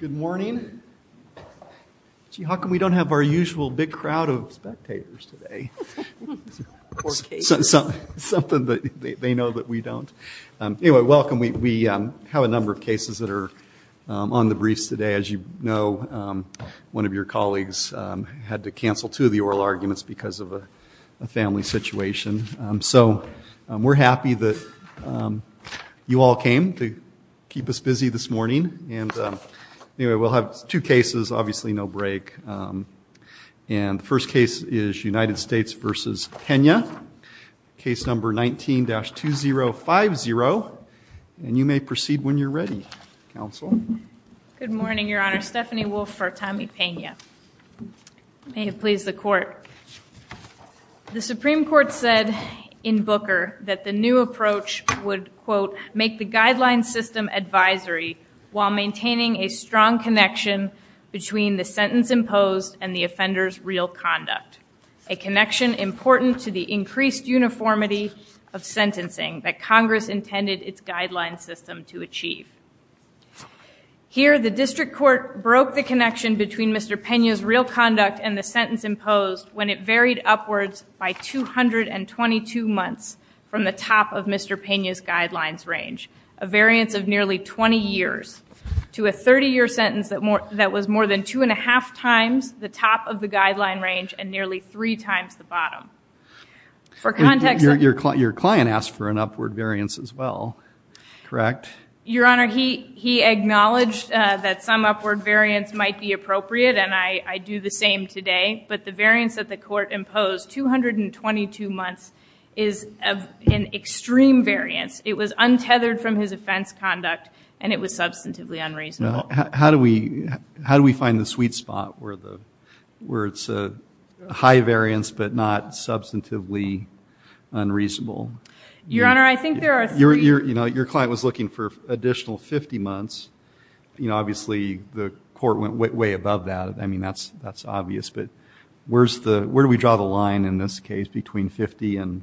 Good morning. Gee, how come we don't have our usual big crowd of spectators today? Something that they know that we don't. Anyway, welcome. We have a number of cases that are on the briefs today. As you know, one of your colleagues had to cancel two of the oral arguments because of a family situation. So we're happy that you all came to keep us busy this morning. And anyway, we'll have two cases, obviously no break. And the first case is United States v. Pena, case number 19-2050. And you may proceed when you're ready, counsel. Good morning, Your Honor. Stephanie Wolfe for Tommy Pena. May it please the court. The Supreme Court said in Booker that the new approach would, quote, make the guideline system advisory while maintaining a strong connection between the sentence imposed and the offender's real conduct, a connection important to the increased uniformity of sentencing that Congress intended its guideline system to achieve. Here, the district court broke the connection between Mr. Pena's real conduct and the sentence imposed when it varied upwards by 222 months from the top of Mr. Pena's guidelines range, a variance of nearly 20 years, to a 30-year sentence that was more than 2 1⁄2 times the top of the guideline range and nearly three times the bottom. Your client asked for an upward variance as well, correct? Your Honor, he acknowledged that some upward variance might be appropriate, and I do the same today. But the variance that the court imposed, 222 months, is an extreme variance. It was untethered from his offense conduct, and it was substantively unreasonable. How do we find the sweet spot where it's a high variance but not substantively unreasonable? Your Honor, I think there are three... Your client was looking for additional 50 months. Obviously, the court went way above that. I mean, that's obvious. But where do we draw the line in this case between 50 and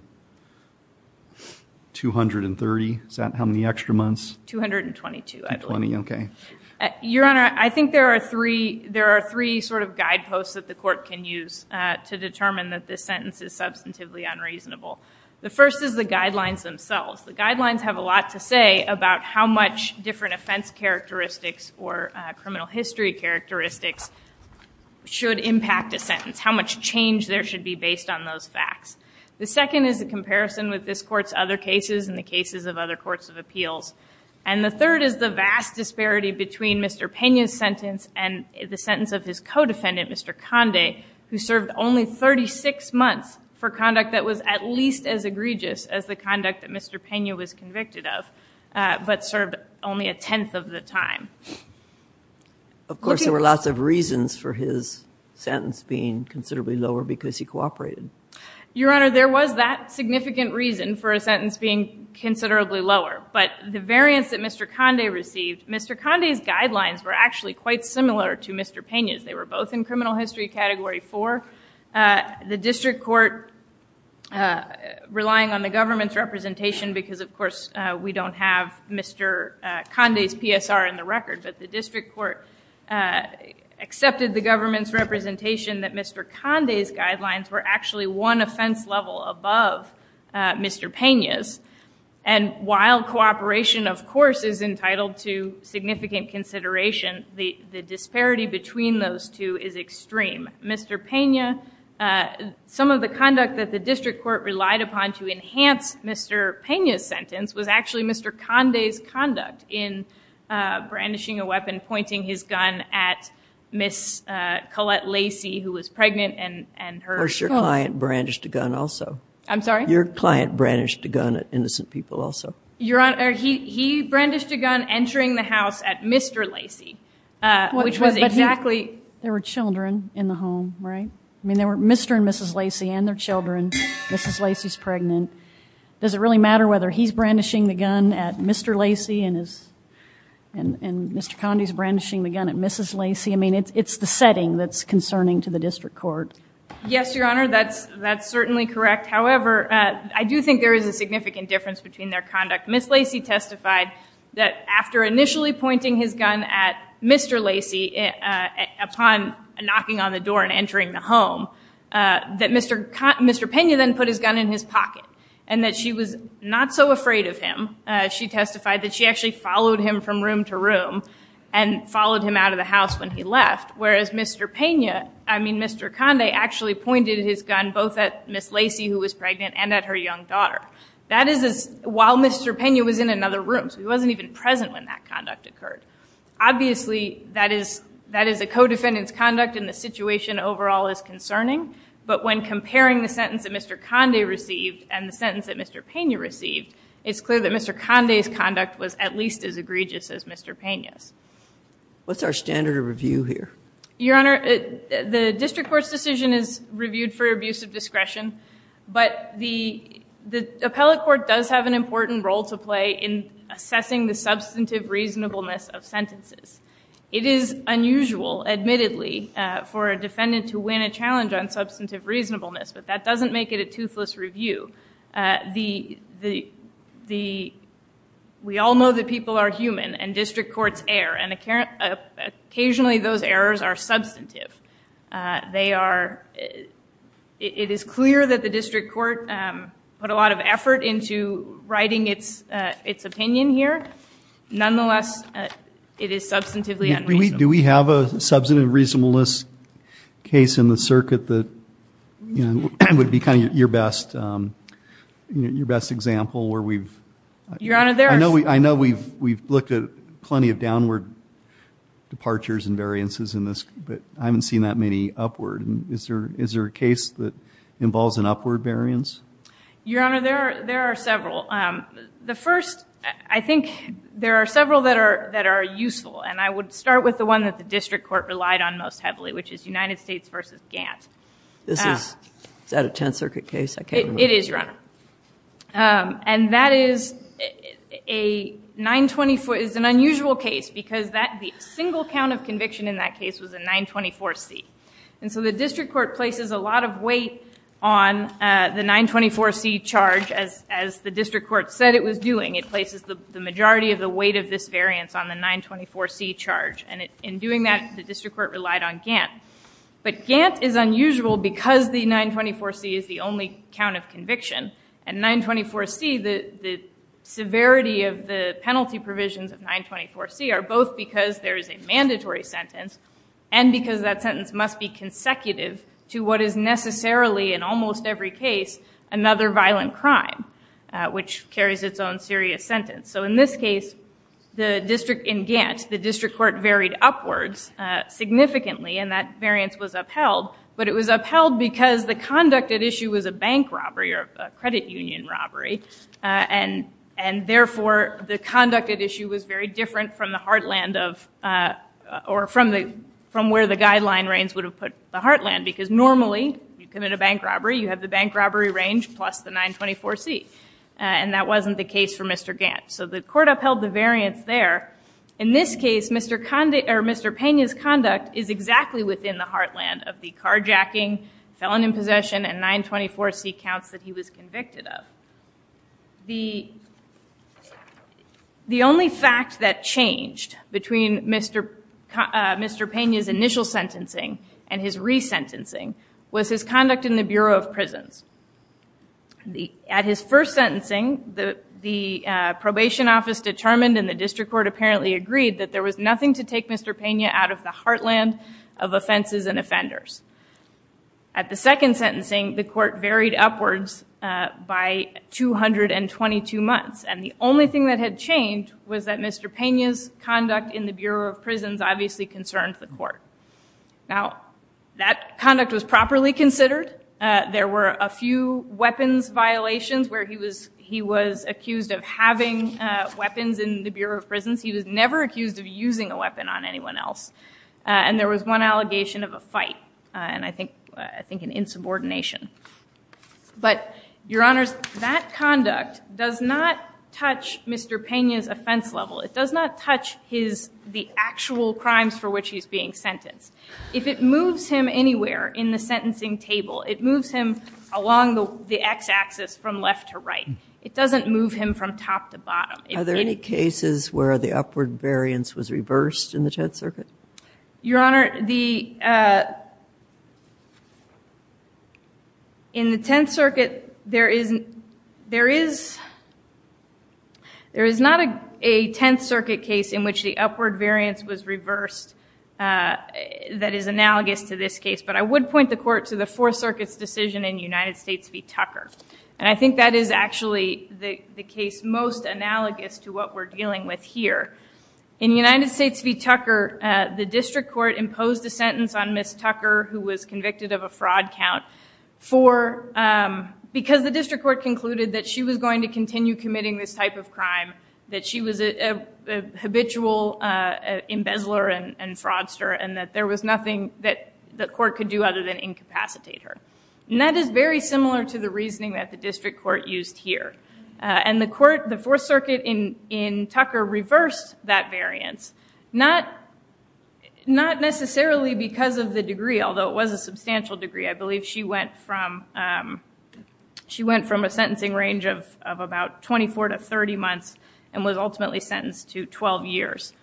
230? Is that how many extra months? 222, I believe. Your Honor, I think there are three sort of guideposts that the court can use to determine that this sentence is substantively unreasonable. The first is the guidelines themselves. The guidelines have a lot to say about how much different offense characteristics or criminal history characteristics should impact a sentence, how much change there should be based on those facts. The second is a comparison with this Court's other cases and the cases of other courts of appeals. And the third is the vast disparity between Mr. Pena's sentence and the sentence of his co-defendant, Mr. Conde, who served only 36 months for conduct that was at least as egregious as the conduct that Mr. Pena was convicted of, but served only a tenth of the time. Of course, there were lots of reasons for his sentence being considerably lower because he cooperated. Your Honor, there was that significant reason for a sentence being considerably lower. But the variance that Mr. Conde received, Mr. Conde's guidelines were actually quite similar to Mr. Pena's. They were both in criminal history category four. The district court, relying on the government's representation because, of course, we don't have Mr. Conde's PSR in the record, but the district court accepted the government's representation that Mr. Conde's guidelines were actually one offense level above Mr. Pena's. And while cooperation, of course, is entitled to significant consideration, the disparity between those two is extreme. Mr. Pena, some of the conduct that the district court relied upon to enhance Mr. Pena's sentence was actually Mr. Conde's conduct in brandishing a weapon, pointing his gun at Ms. Colette Lacy, who was pregnant, and her son. Where's your client brandished a gun also? I'm sorry? Your client brandished a gun at innocent people also? Your Honor, he brandished a gun entering the house at Mr. Lacy, which was exactly... But there were children in the home, right? I mean, there were Mr. and Mrs. Lacy and their children. Mrs. Lacy's pregnant. Does it really matter whether he's brandishing the gun at Mr. Lacy and Mr. Conde's brandishing the gun at Mrs. Lacy? I mean, it's the setting that's concerning to the district court. Yes, Your Honor, that's certainly correct. However, I do think there is a significant difference between their conduct. Ms. Lacy testified that after initially pointing his gun at Mr. Lacy upon knocking on the door and entering the home, that Mr. Pena then put his gun in his pocket, and that she was not so afraid of him. She testified that she actually followed him from room to room and followed him out of the house when he left, whereas Mr. Pena... I mean, Mr. Conde actually pointed his gun both at Ms. Lacy, who was while Mr. Pena was in another room, so he wasn't even present when that conduct occurred. Obviously, that is a co-defendant's conduct and the situation overall is concerning, but when comparing the sentence that Mr. Conde received and the sentence that Mr. Pena received, it's clear that Mr. Conde's conduct was at least as egregious as Mr. Pena's. What's our standard of review here? Your Honor, the district court's decision is reviewed for abuse of discretion, but the district court does have an important role to play in assessing the substantive reasonableness of sentences. It is unusual, admittedly, for a defendant to win a challenge on substantive reasonableness, but that doesn't make it a toothless review. We all know that people are human and district courts err, and occasionally those errors are substantive. It is clear that the district court put a lot of effort into writing its opinion here. Nonetheless, it is substantively unreasonable. Do we have a substantive reasonableness case in the circuit that would be kind of your best example where we've... Your Honor, there are... I know we've looked at plenty of downward departures and variances in this, but I haven't seen that many upward. Is there a case that involves an upward variance? Your Honor, there are several. The first, I think there are several that are useful, and I would start with the one that the district court relied on most heavily, which is United States v. Gant. This is, is that a Tenth Circuit case? It is, Your Honor. And that is a 924, is an unusual case because the single count of conviction in that case was a 924C. And so the district court places a lot of weight on the 924C charge as the district court said it was doing. It places the majority of the weight of this variance on the 924C charge. And in doing that, the district court relied on Gant. But Gant is unusual because the 924C is the only count of conviction. And 924C, the severity of the penalty provisions of 924C are both because there is a mandatory sentence and because that sentence must be consecutive to what is necessarily in almost every case another violent crime, which carries its own serious sentence. So in this case, the district in Gant, the district court varied upwards significantly and that variance was upheld. But it was upheld because the conducted issue was a bank robbery or a credit union robbery. And, and therefore the conducted issue was very different from the heartland of, or from the, from where the guideline reigns would have put the heartland because normally you commit a bank robbery, you have the bank robbery range plus the 924C. And that wasn't the case for Mr. Gant. So the court upheld the variance there. In this case, Mr. Pena's conduct is exactly within the heartland of the carjacking, felon in which he was convicted of. The only fact that changed between Mr. Pena's initial sentencing and his resentencing was his conduct in the Bureau of Prisons. At his first sentencing, the probation office determined and the district court apparently agreed that there was nothing to take Mr. Pena out of the heartland of offenses and offenders. At the second sentencing, the court varied upwards by 222 months. And the only thing that had changed was that Mr. Pena's conduct in the Bureau of Prisons obviously concerned the court. Now that conduct was properly considered. There were a few weapons violations where he was, he was accused of having weapons in the Bureau of Prisons. He was never accused of using a weapon on anyone else. And there was one allegation of a fight and I think, I think an insubordination. But your honors, that conduct does not touch Mr. Pena's offense level. It does not touch his, the actual crimes for which he's being sentenced. If it moves him anywhere in the sentencing table, it moves him along the X axis from left to right. It doesn't move him from top to bottom. Are there any cases where the upward variance was reversed in the Tenth Circuit? Your honor, the, in the Tenth Circuit, there is, there is, there is not a Tenth Circuit case in which the upward variance was reversed that is analogous to this case. But I would point the court to the Fourth Circuit's decision in United States v. Tucker. And I think that is actually the case most analogous to what we're dealing with here. In United States v. Tucker, the district court imposed a sentence on Ms. Tucker who was convicted of a fraud count for, because the district court concluded that she was going to continue committing this type of crime, that she was a habitual embezzler and fraudster and that there was nothing that the court could do other than incapacitate her. And that is very similar to the reasoning that the district court used here. And the court, the Fourth Circuit in, in Tucker reversed that variance. Not, not necessarily because of the degree, although it was a substantial degree. I believe she went from, she went from a sentencing range of about 24 to 30 months and was ultimately sentenced to 12 years.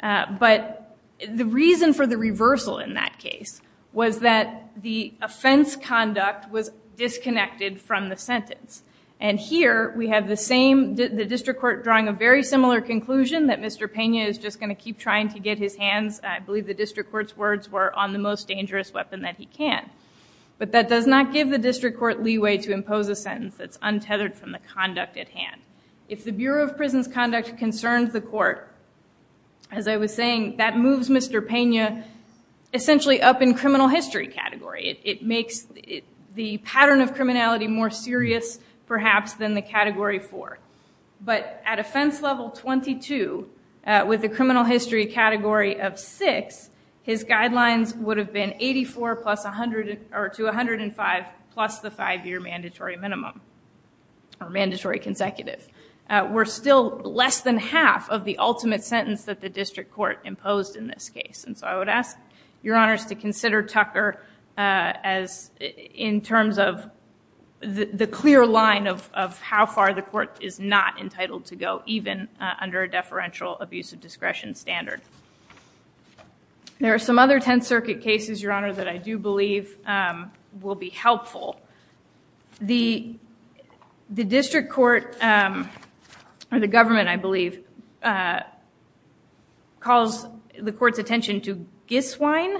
But the reason for the reversal in that case was that the offense conduct was disconnected from the sentence. And here we have the same, the district court drawing a very similar conclusion that Mr. Pena is just going to keep trying to get his hands, I believe the district court's words were, on the most dangerous weapon that he can. But that does not give the district court leeway to impose a sentence that's untethered from the conduct at hand. If the Bureau of Justice, essentially up in criminal history category, it makes the pattern of criminality more serious perhaps than the category four. But at offense level 22, with the criminal history category of six, his guidelines would have been 84 plus 100 or to 105 plus the five year mandatory minimum or mandatory consecutive. We're still less than half of the ultimate sentence that the district court imposed in this case. And so I would ask your honors to consider Tucker as, in terms of the clear line of how far the court is not entitled to go, even under a deferential abuse of discretion standard. There are some other Tenth Circuit cases, your honor, that I do believe will be helpful. The district court, or the government, I believe, calls the court's attention to Giswine.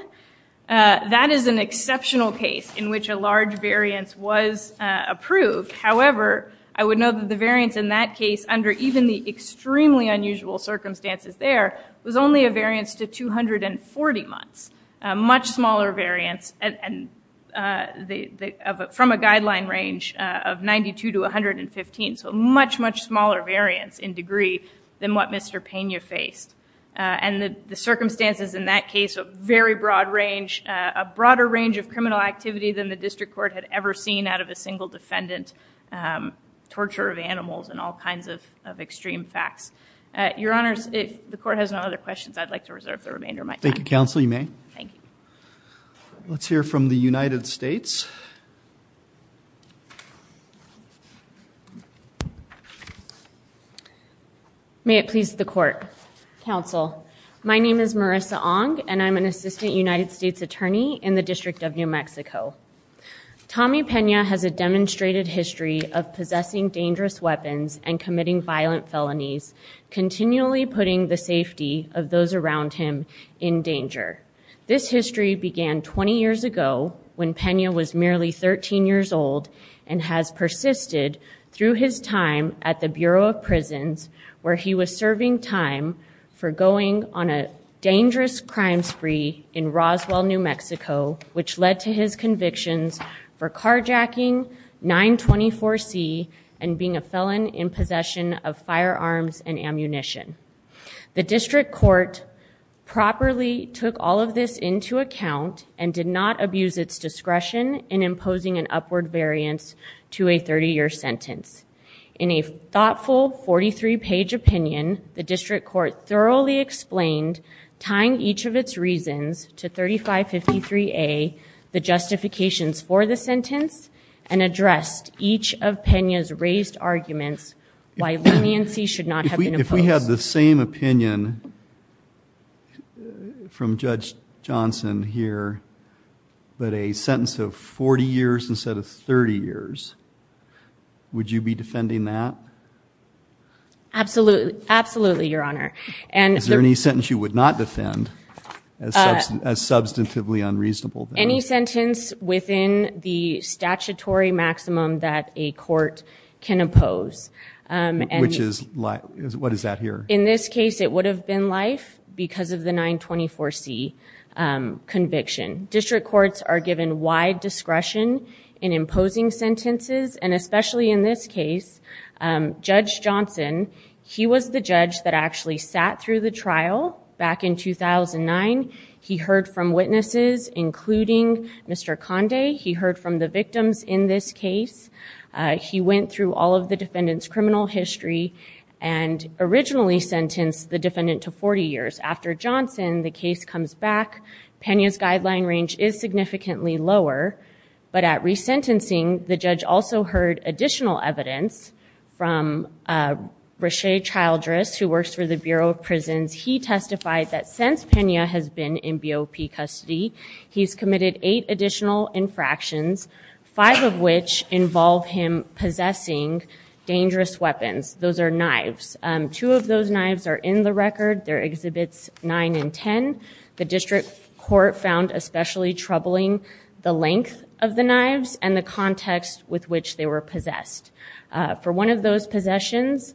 That is an exceptional case in which a large variance was approved. However, I would note that the variance in that case, under even the extremely unusual circumstances there, was only a variance to 240 months. Much smaller variance from a guideline range of 92 to 115. So much, much smaller variance in degree than what Mr. Pena faced. And the circumstances in that case of very broad range, a broader range of criminal activity than the district court had ever seen out of a single defendant, torture of animals and all kinds of extreme facts. Your honor, I would ask your honors to consider the remainder of my time. Thank you, counsel, you may. Thank you. Let's hear from the United States. May it please the court. Counsel, my name is Marissa Ong, and I'm an assistant United States attorney in the District of New Mexico. Tommy Pena has a demonstrated history of possessing dangerous weapons and committing violent felonies, continually putting the safety of those around him in danger. This history began 20 years ago when Pena was merely 13 years old and has persisted through his time at the Bureau of Prisons, where he was serving time for going on a dangerous crime spree in Roswell, New Mexico, which led to his convictions for carjacking 924C and being a felon in possession of firearms and ammunition. The district court properly took all of this into account and did not abuse its discretion in imposing an upward variance to a 30-year sentence. In a thoughtful 43-page opinion, the district court thoroughly explained, tying each of its reasons to 3553A, the justifications for the sentence, and addressed each of Pena's raised arguments why leniency should not have been imposed. If we had the same opinion from Judge Johnson here, but a sentence of 40 years instead of 30 years, would you be defending that? Absolutely, Your Honor. Is there any sentence you would not defend as substantively unreasonable? Any sentence within the statutory limit? In this case, it would have been life because of the 924C conviction. District courts are given wide discretion in imposing sentences, and especially in this case, Judge Johnson, he was the judge that actually sat through the trial back in 2009. He heard from witnesses, including Mr. Conde. He heard from the victims in this case. He went through all of the defendant's criminal history and originally sentenced the defendant to 40 years. After Johnson, the case comes back. Pena's guideline range is significantly lower, but at resentencing, the judge also heard additional evidence from Rache Childress, who works for the Bureau of Prisons. He testified that since Pena has been in BOP custody, he's committed eight additional infractions, five of which involve him possessing dangerous weapons. Those are knives. Two of those knives are in the record. They're Exhibits 9 and 10. The district court found especially troubling the length of the knives and the context with which they were possessed. For one of those possessions,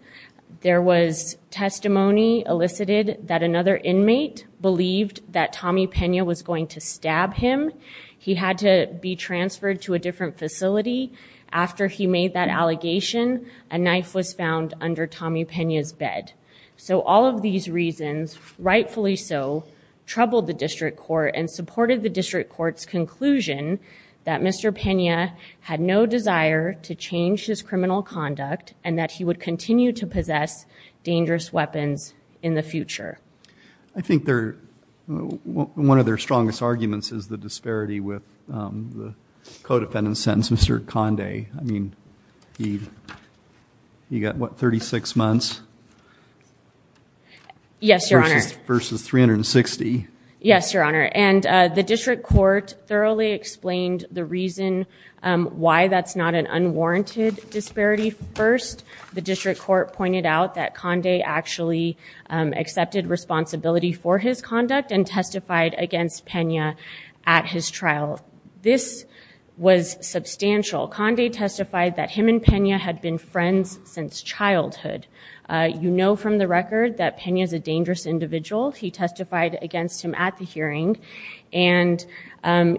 there was testimony elicited that another inmate believed that Tommy Pena was going to stab him. He had to be transferred to a different facility. After he made that allegation, a knife was found under Tommy Pena's bed. So all of these reasons, rightfully so, troubled the district court and supported the district court's conclusion that Mr. Pena had no desire to change his criminal conduct and that he would continue to possess dangerous weapons in the future. I think one of their strongest arguments is the disparity with the co-defendant's sentence, Mr. Conde. I mean, he got, what, 36 months? Yes, Your Honor. Versus 360. Yes, Your Honor. And the district court thoroughly explained the reason why that's not an unwarranted disparity. First, the district court pointed out that Conde actually accepted responsibility for his conduct and testified against Pena at his trial. This was substantial. Conde testified that him and Pena had been friends since childhood. You know from the record that Pena's a dangerous individual. He testified against him at the hearing. And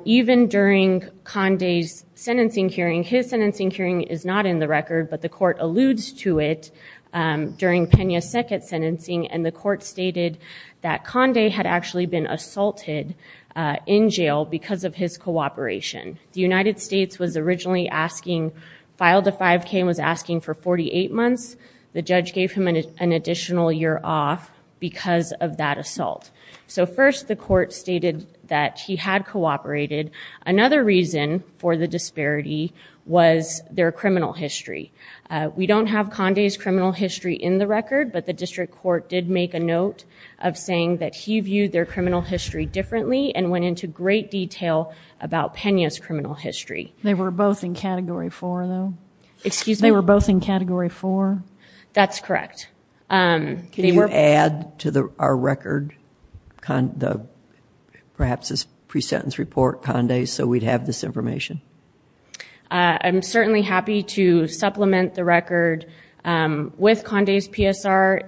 even during Conde's sentencing hearing, his sentencing hearing is not in the record, but the court alludes to it during Pena's second sentencing. And the court stated that Conde had actually been assaulted in jail because of his cooperation. The United States was originally asking, filed a 5K and was asking for 48 months. The judge gave him an additional year off because of that assault. So first, the court stated that he had cooperated. Another reason for the disparity was their criminal history. We don't have Conde's criminal history in the record, but the district court did make a note of saying that he viewed their criminal history differently and went into great detail about Pena's criminal history. They were both in Category 4, though? Excuse me? They were both in Category 4? That's correct. Can you add to our record, perhaps this pre-sentence report, Conde's, so we'd have this information? I'm certainly happy to supplement the record with Conde's PSR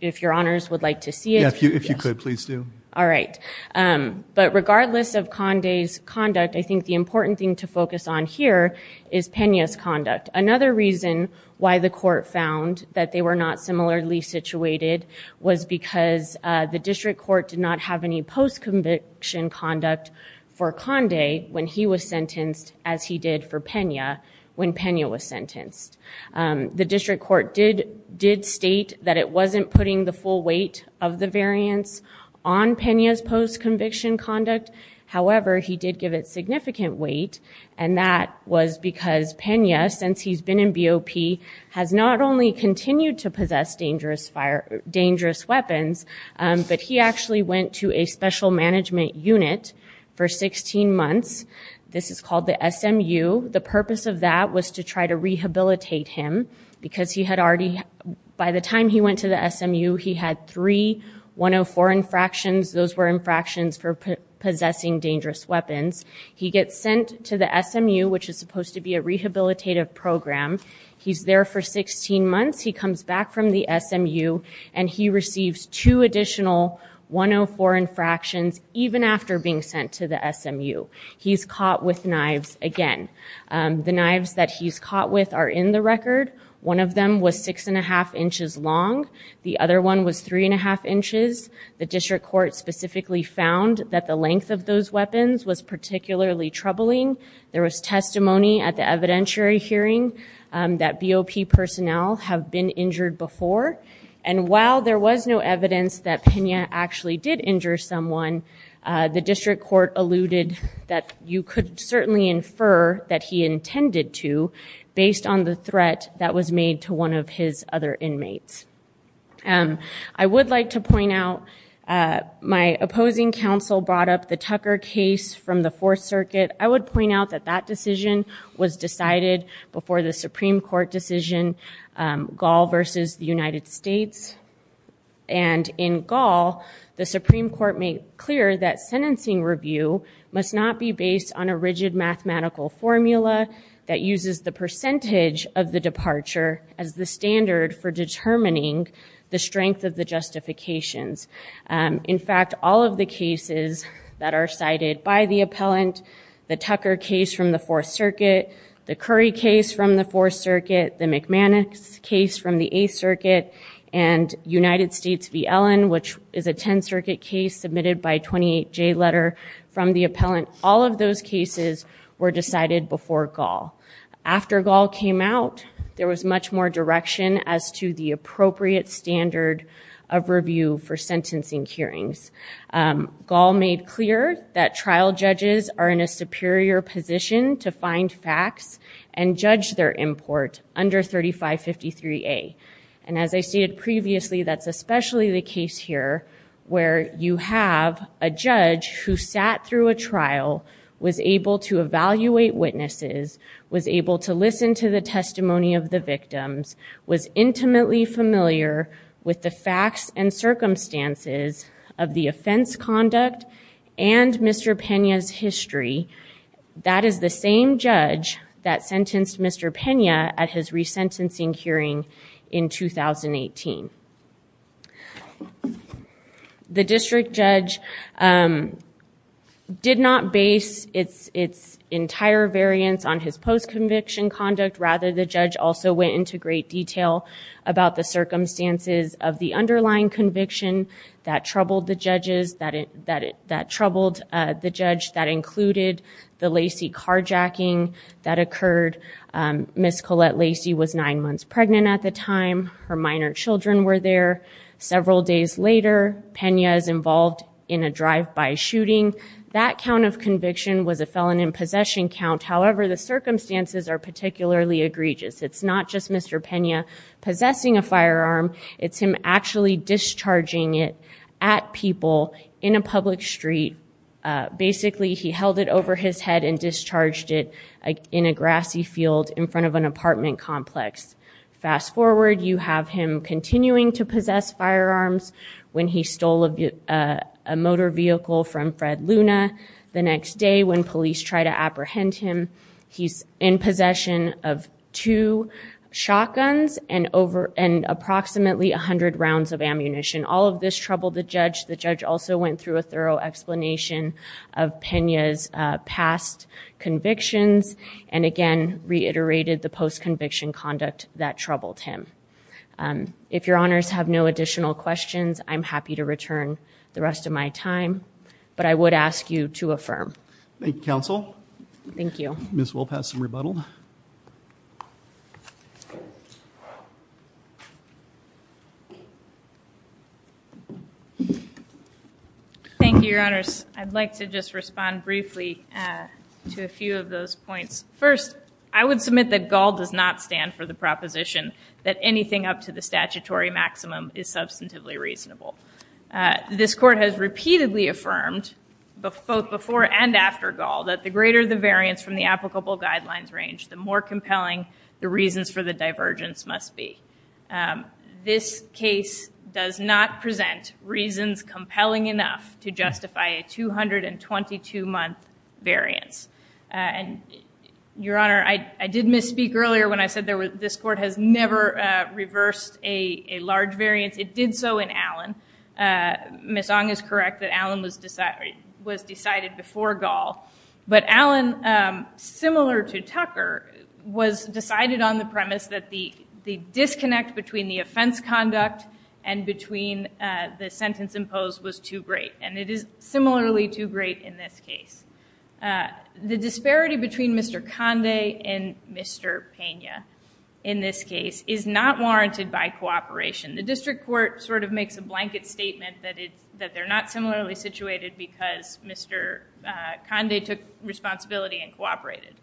if your honors would like to see it. If you could, please do. All right. But regardless of Conde's conduct, I think the important thing to focus on here is Pena's conduct. The reason why the court found that they were not similarly situated was because the district court did not have any post-conviction conduct for Conde when he was sentenced as he did for Pena when Pena was sentenced. The district court did state that it wasn't putting the full weight of the variance on Pena's post-conviction conduct. However, he did give it significant weight, and that was because Pena, since he's been in BOP, has not only continued to possess dangerous weapons, but he actually went to a special management unit for 16 months. This is called the SMU. The purpose of that was to try to rehabilitate him because he had already, by the time he went to the SMU, he had three 104 infractions. Those were infractions for possessing dangerous weapons. He gets sent to the SMU, which is supposed to be a rehabilitative program. He's there for 16 months. He comes back from the SMU, and he receives two additional 104 infractions even after being sent to the SMU. He's caught with knives again. The knives that he's caught with are in the record. One of them was six and a half inches long. The other one was three and a half inches. The district court specifically found that the length of those weapons was particularly troubling. There was testimony at the evidentiary hearing that BOP personnel have been injured before. And while there was no evidence that Pena actually did injure someone, the district court alluded that you could certainly infer that he intended to based on the threat that was made to one of his other inmates. I would like to point out my opposing counsel brought up the Tucker case from the Fourth Circuit. I would point out that that decision was decided before the Supreme Court decision, Gall versus the United States. And in Gall, the Supreme Court made clear that sentencing review must not be based on a rigid mathematical formula that is standard for determining the strength of the justifications. In fact, all of the cases that are cited by the appellant, the Tucker case from the Fourth Circuit, the Curry case from the Fourth Circuit, the McManus case from the Eighth Circuit, and United States v. Ellen, which is a Tenth Circuit case submitted by 28J letter from the appellant, all of those cases were decided before Gall. After Gall came out, there was much more direction as to the appropriate standard of review for sentencing hearings. Gall made clear that trial judges are in a superior position to find facts and judge their import under 3553A. And as I stated previously, that's especially the case here where you have a judge who sat through a trial, was able to evaluate witnesses, was able to listen to the testimony of the victims, was intimately familiar with the facts and circumstances of the offense conduct and Mr. Pena's history. That is the same judge that sentenced Mr. Pena at his resentencing hearing in 2018. The district judge did not base its entire variance on his post-conviction conduct. Rather, the judge also went into great detail about the circumstances of the underlying conviction that troubled the judges, that troubled the judge that included the Colette Lacy was nine months pregnant at the time, her minor children were there. Several days later, Pena is involved in a drive-by shooting. That count of conviction was a felon in possession count. However, the circumstances are particularly egregious. It's not just Mr. Pena possessing a firearm, it's him actually discharging it at people in a public street. Basically, he held it over his head and discharged it in a grassy field in front of an apartment complex. Fast forward, you have him continuing to possess firearms when he stole a motor vehicle from Fred Luna. The next day, when police try to apprehend him, he's in possession of two shotguns and approximately 100 rounds of ammunition. All of this troubled the judge. The judge also went through a thorough explanation of Pena's past convictions and, again, reiterated the post-conviction conduct that troubled him. If your honors have no additional questions, I'm happy to return the rest of my time, but I would ask you to affirm. Thank you, counsel. Thank you. Ms. Wilpass can rebuttal. Thank you, your honors. I'd like to just respond briefly to a few of those points. First, I would submit that Gall does not stand for the proposition that anything up to the statutory after Gall that the greater the variance from the applicable guidelines range, the more compelling the reasons for the divergence must be. This case does not present reasons compelling enough to justify a 222-month variance. Your honor, I did misspeak earlier when I said this court has never reversed a large variance. It did so in Allen. Ms. Ong is correct that Allen was decided before Gall, but Allen, similar to Tucker, was decided on the premise that the disconnect between the offense conduct and between the sentence imposed was too great, and it is similarly too great in this case. The disparity between Mr. Conde and Mr. Pena in this case is not warranted by cooperation. The district court sort of makes a blanket statement that they're not similarly situated because Mr. Conde took responsibility and cooperated.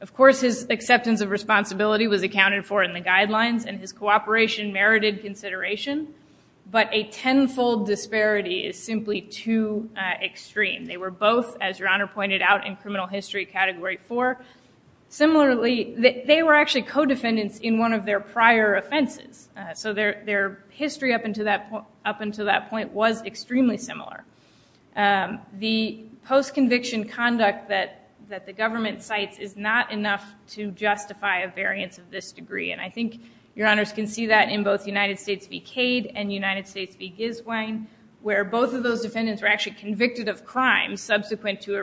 Of course, his acceptance of responsibility was accounted for in the guidelines, and his cooperation merited consideration, but a tenfold disparity is simply too extreme. They were both, as your honor pointed out, in criminal history category 4. Similarly, they were actually co-defendants in one of their prior offenses, so their history up until that point was extremely similar. The post-conviction conduct that the government cites is not enough to justify a variance of this degree, and I think your honors can see that in both United States v. Cade and United States v. Giswine, where both of those defendants were actually convicted of crimes subsequent to an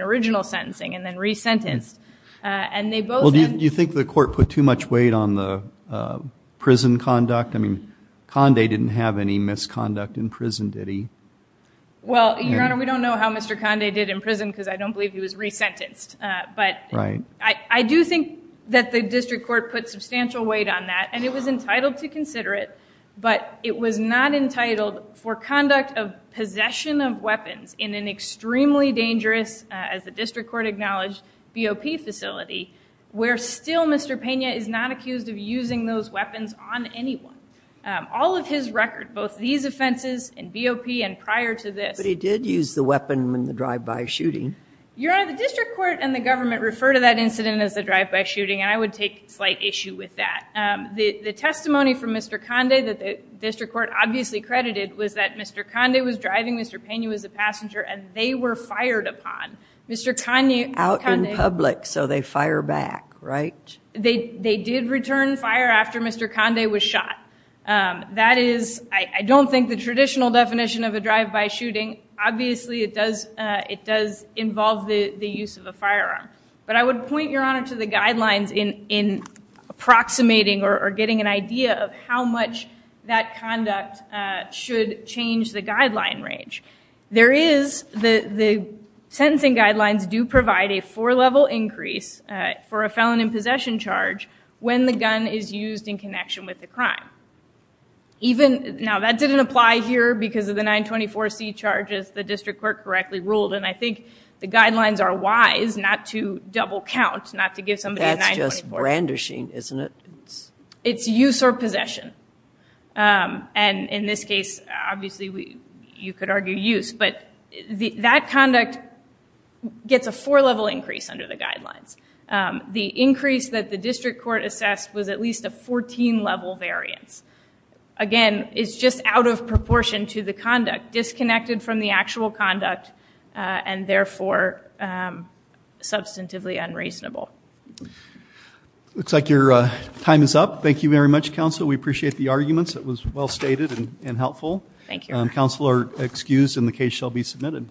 original sentencing and then resentenced. Well, do you think the court put too much weight on the prison conduct? I mean, Conde didn't have any misconduct in prison, did he? Well, your honor, we don't know how Mr. Conde did in prison because I don't believe he was resentenced, but I do think that the district court put substantial weight on that, and it was entitled for conduct of possession of weapons in an extremely dangerous, as the district court acknowledged, BOP facility, where still Mr. Pena is not accused of using those weapons on anyone. All of his record, both these offenses and BOP and prior to this. But he did use the weapon in the drive-by shooting. Your honor, the district court and the government refer to that incident as the drive-by shooting, and I would take slight issue with that. The testimony from Mr. Conde that the credited was that Mr. Conde was driving, Mr. Pena was a passenger, and they were fired upon. Out in public, so they fire back, right? They did return fire after Mr. Conde was shot. That is, I don't think the traditional definition of a drive-by shooting, obviously it does involve the use of a firearm. But I would point your honor to the guidelines in approximating or getting an idea of how much that conduct should change the guideline range. There is, the sentencing guidelines do provide a four-level increase for a felon in possession charge when the gun is used in connection with the crime. Even, now that didn't apply here because of the 924C charges the district court correctly ruled, and I think the guidelines are wise not to double count, not to give somebody a 924. That's just brandishing, isn't it? It's use or possession. And in this case, obviously you could argue use, but that conduct gets a four-level increase under the guidelines. The increase that the district court assessed was at least a 14-level variance. Again, it's just out of proportion to the conduct, disconnected from the actual conduct, and therefore substantively unreasonable. Looks like your time is up. Thank you very much, counsel. We appreciate the arguments. It was well stated and helpful. Thank you. Counsel are excused and the case shall be submitted.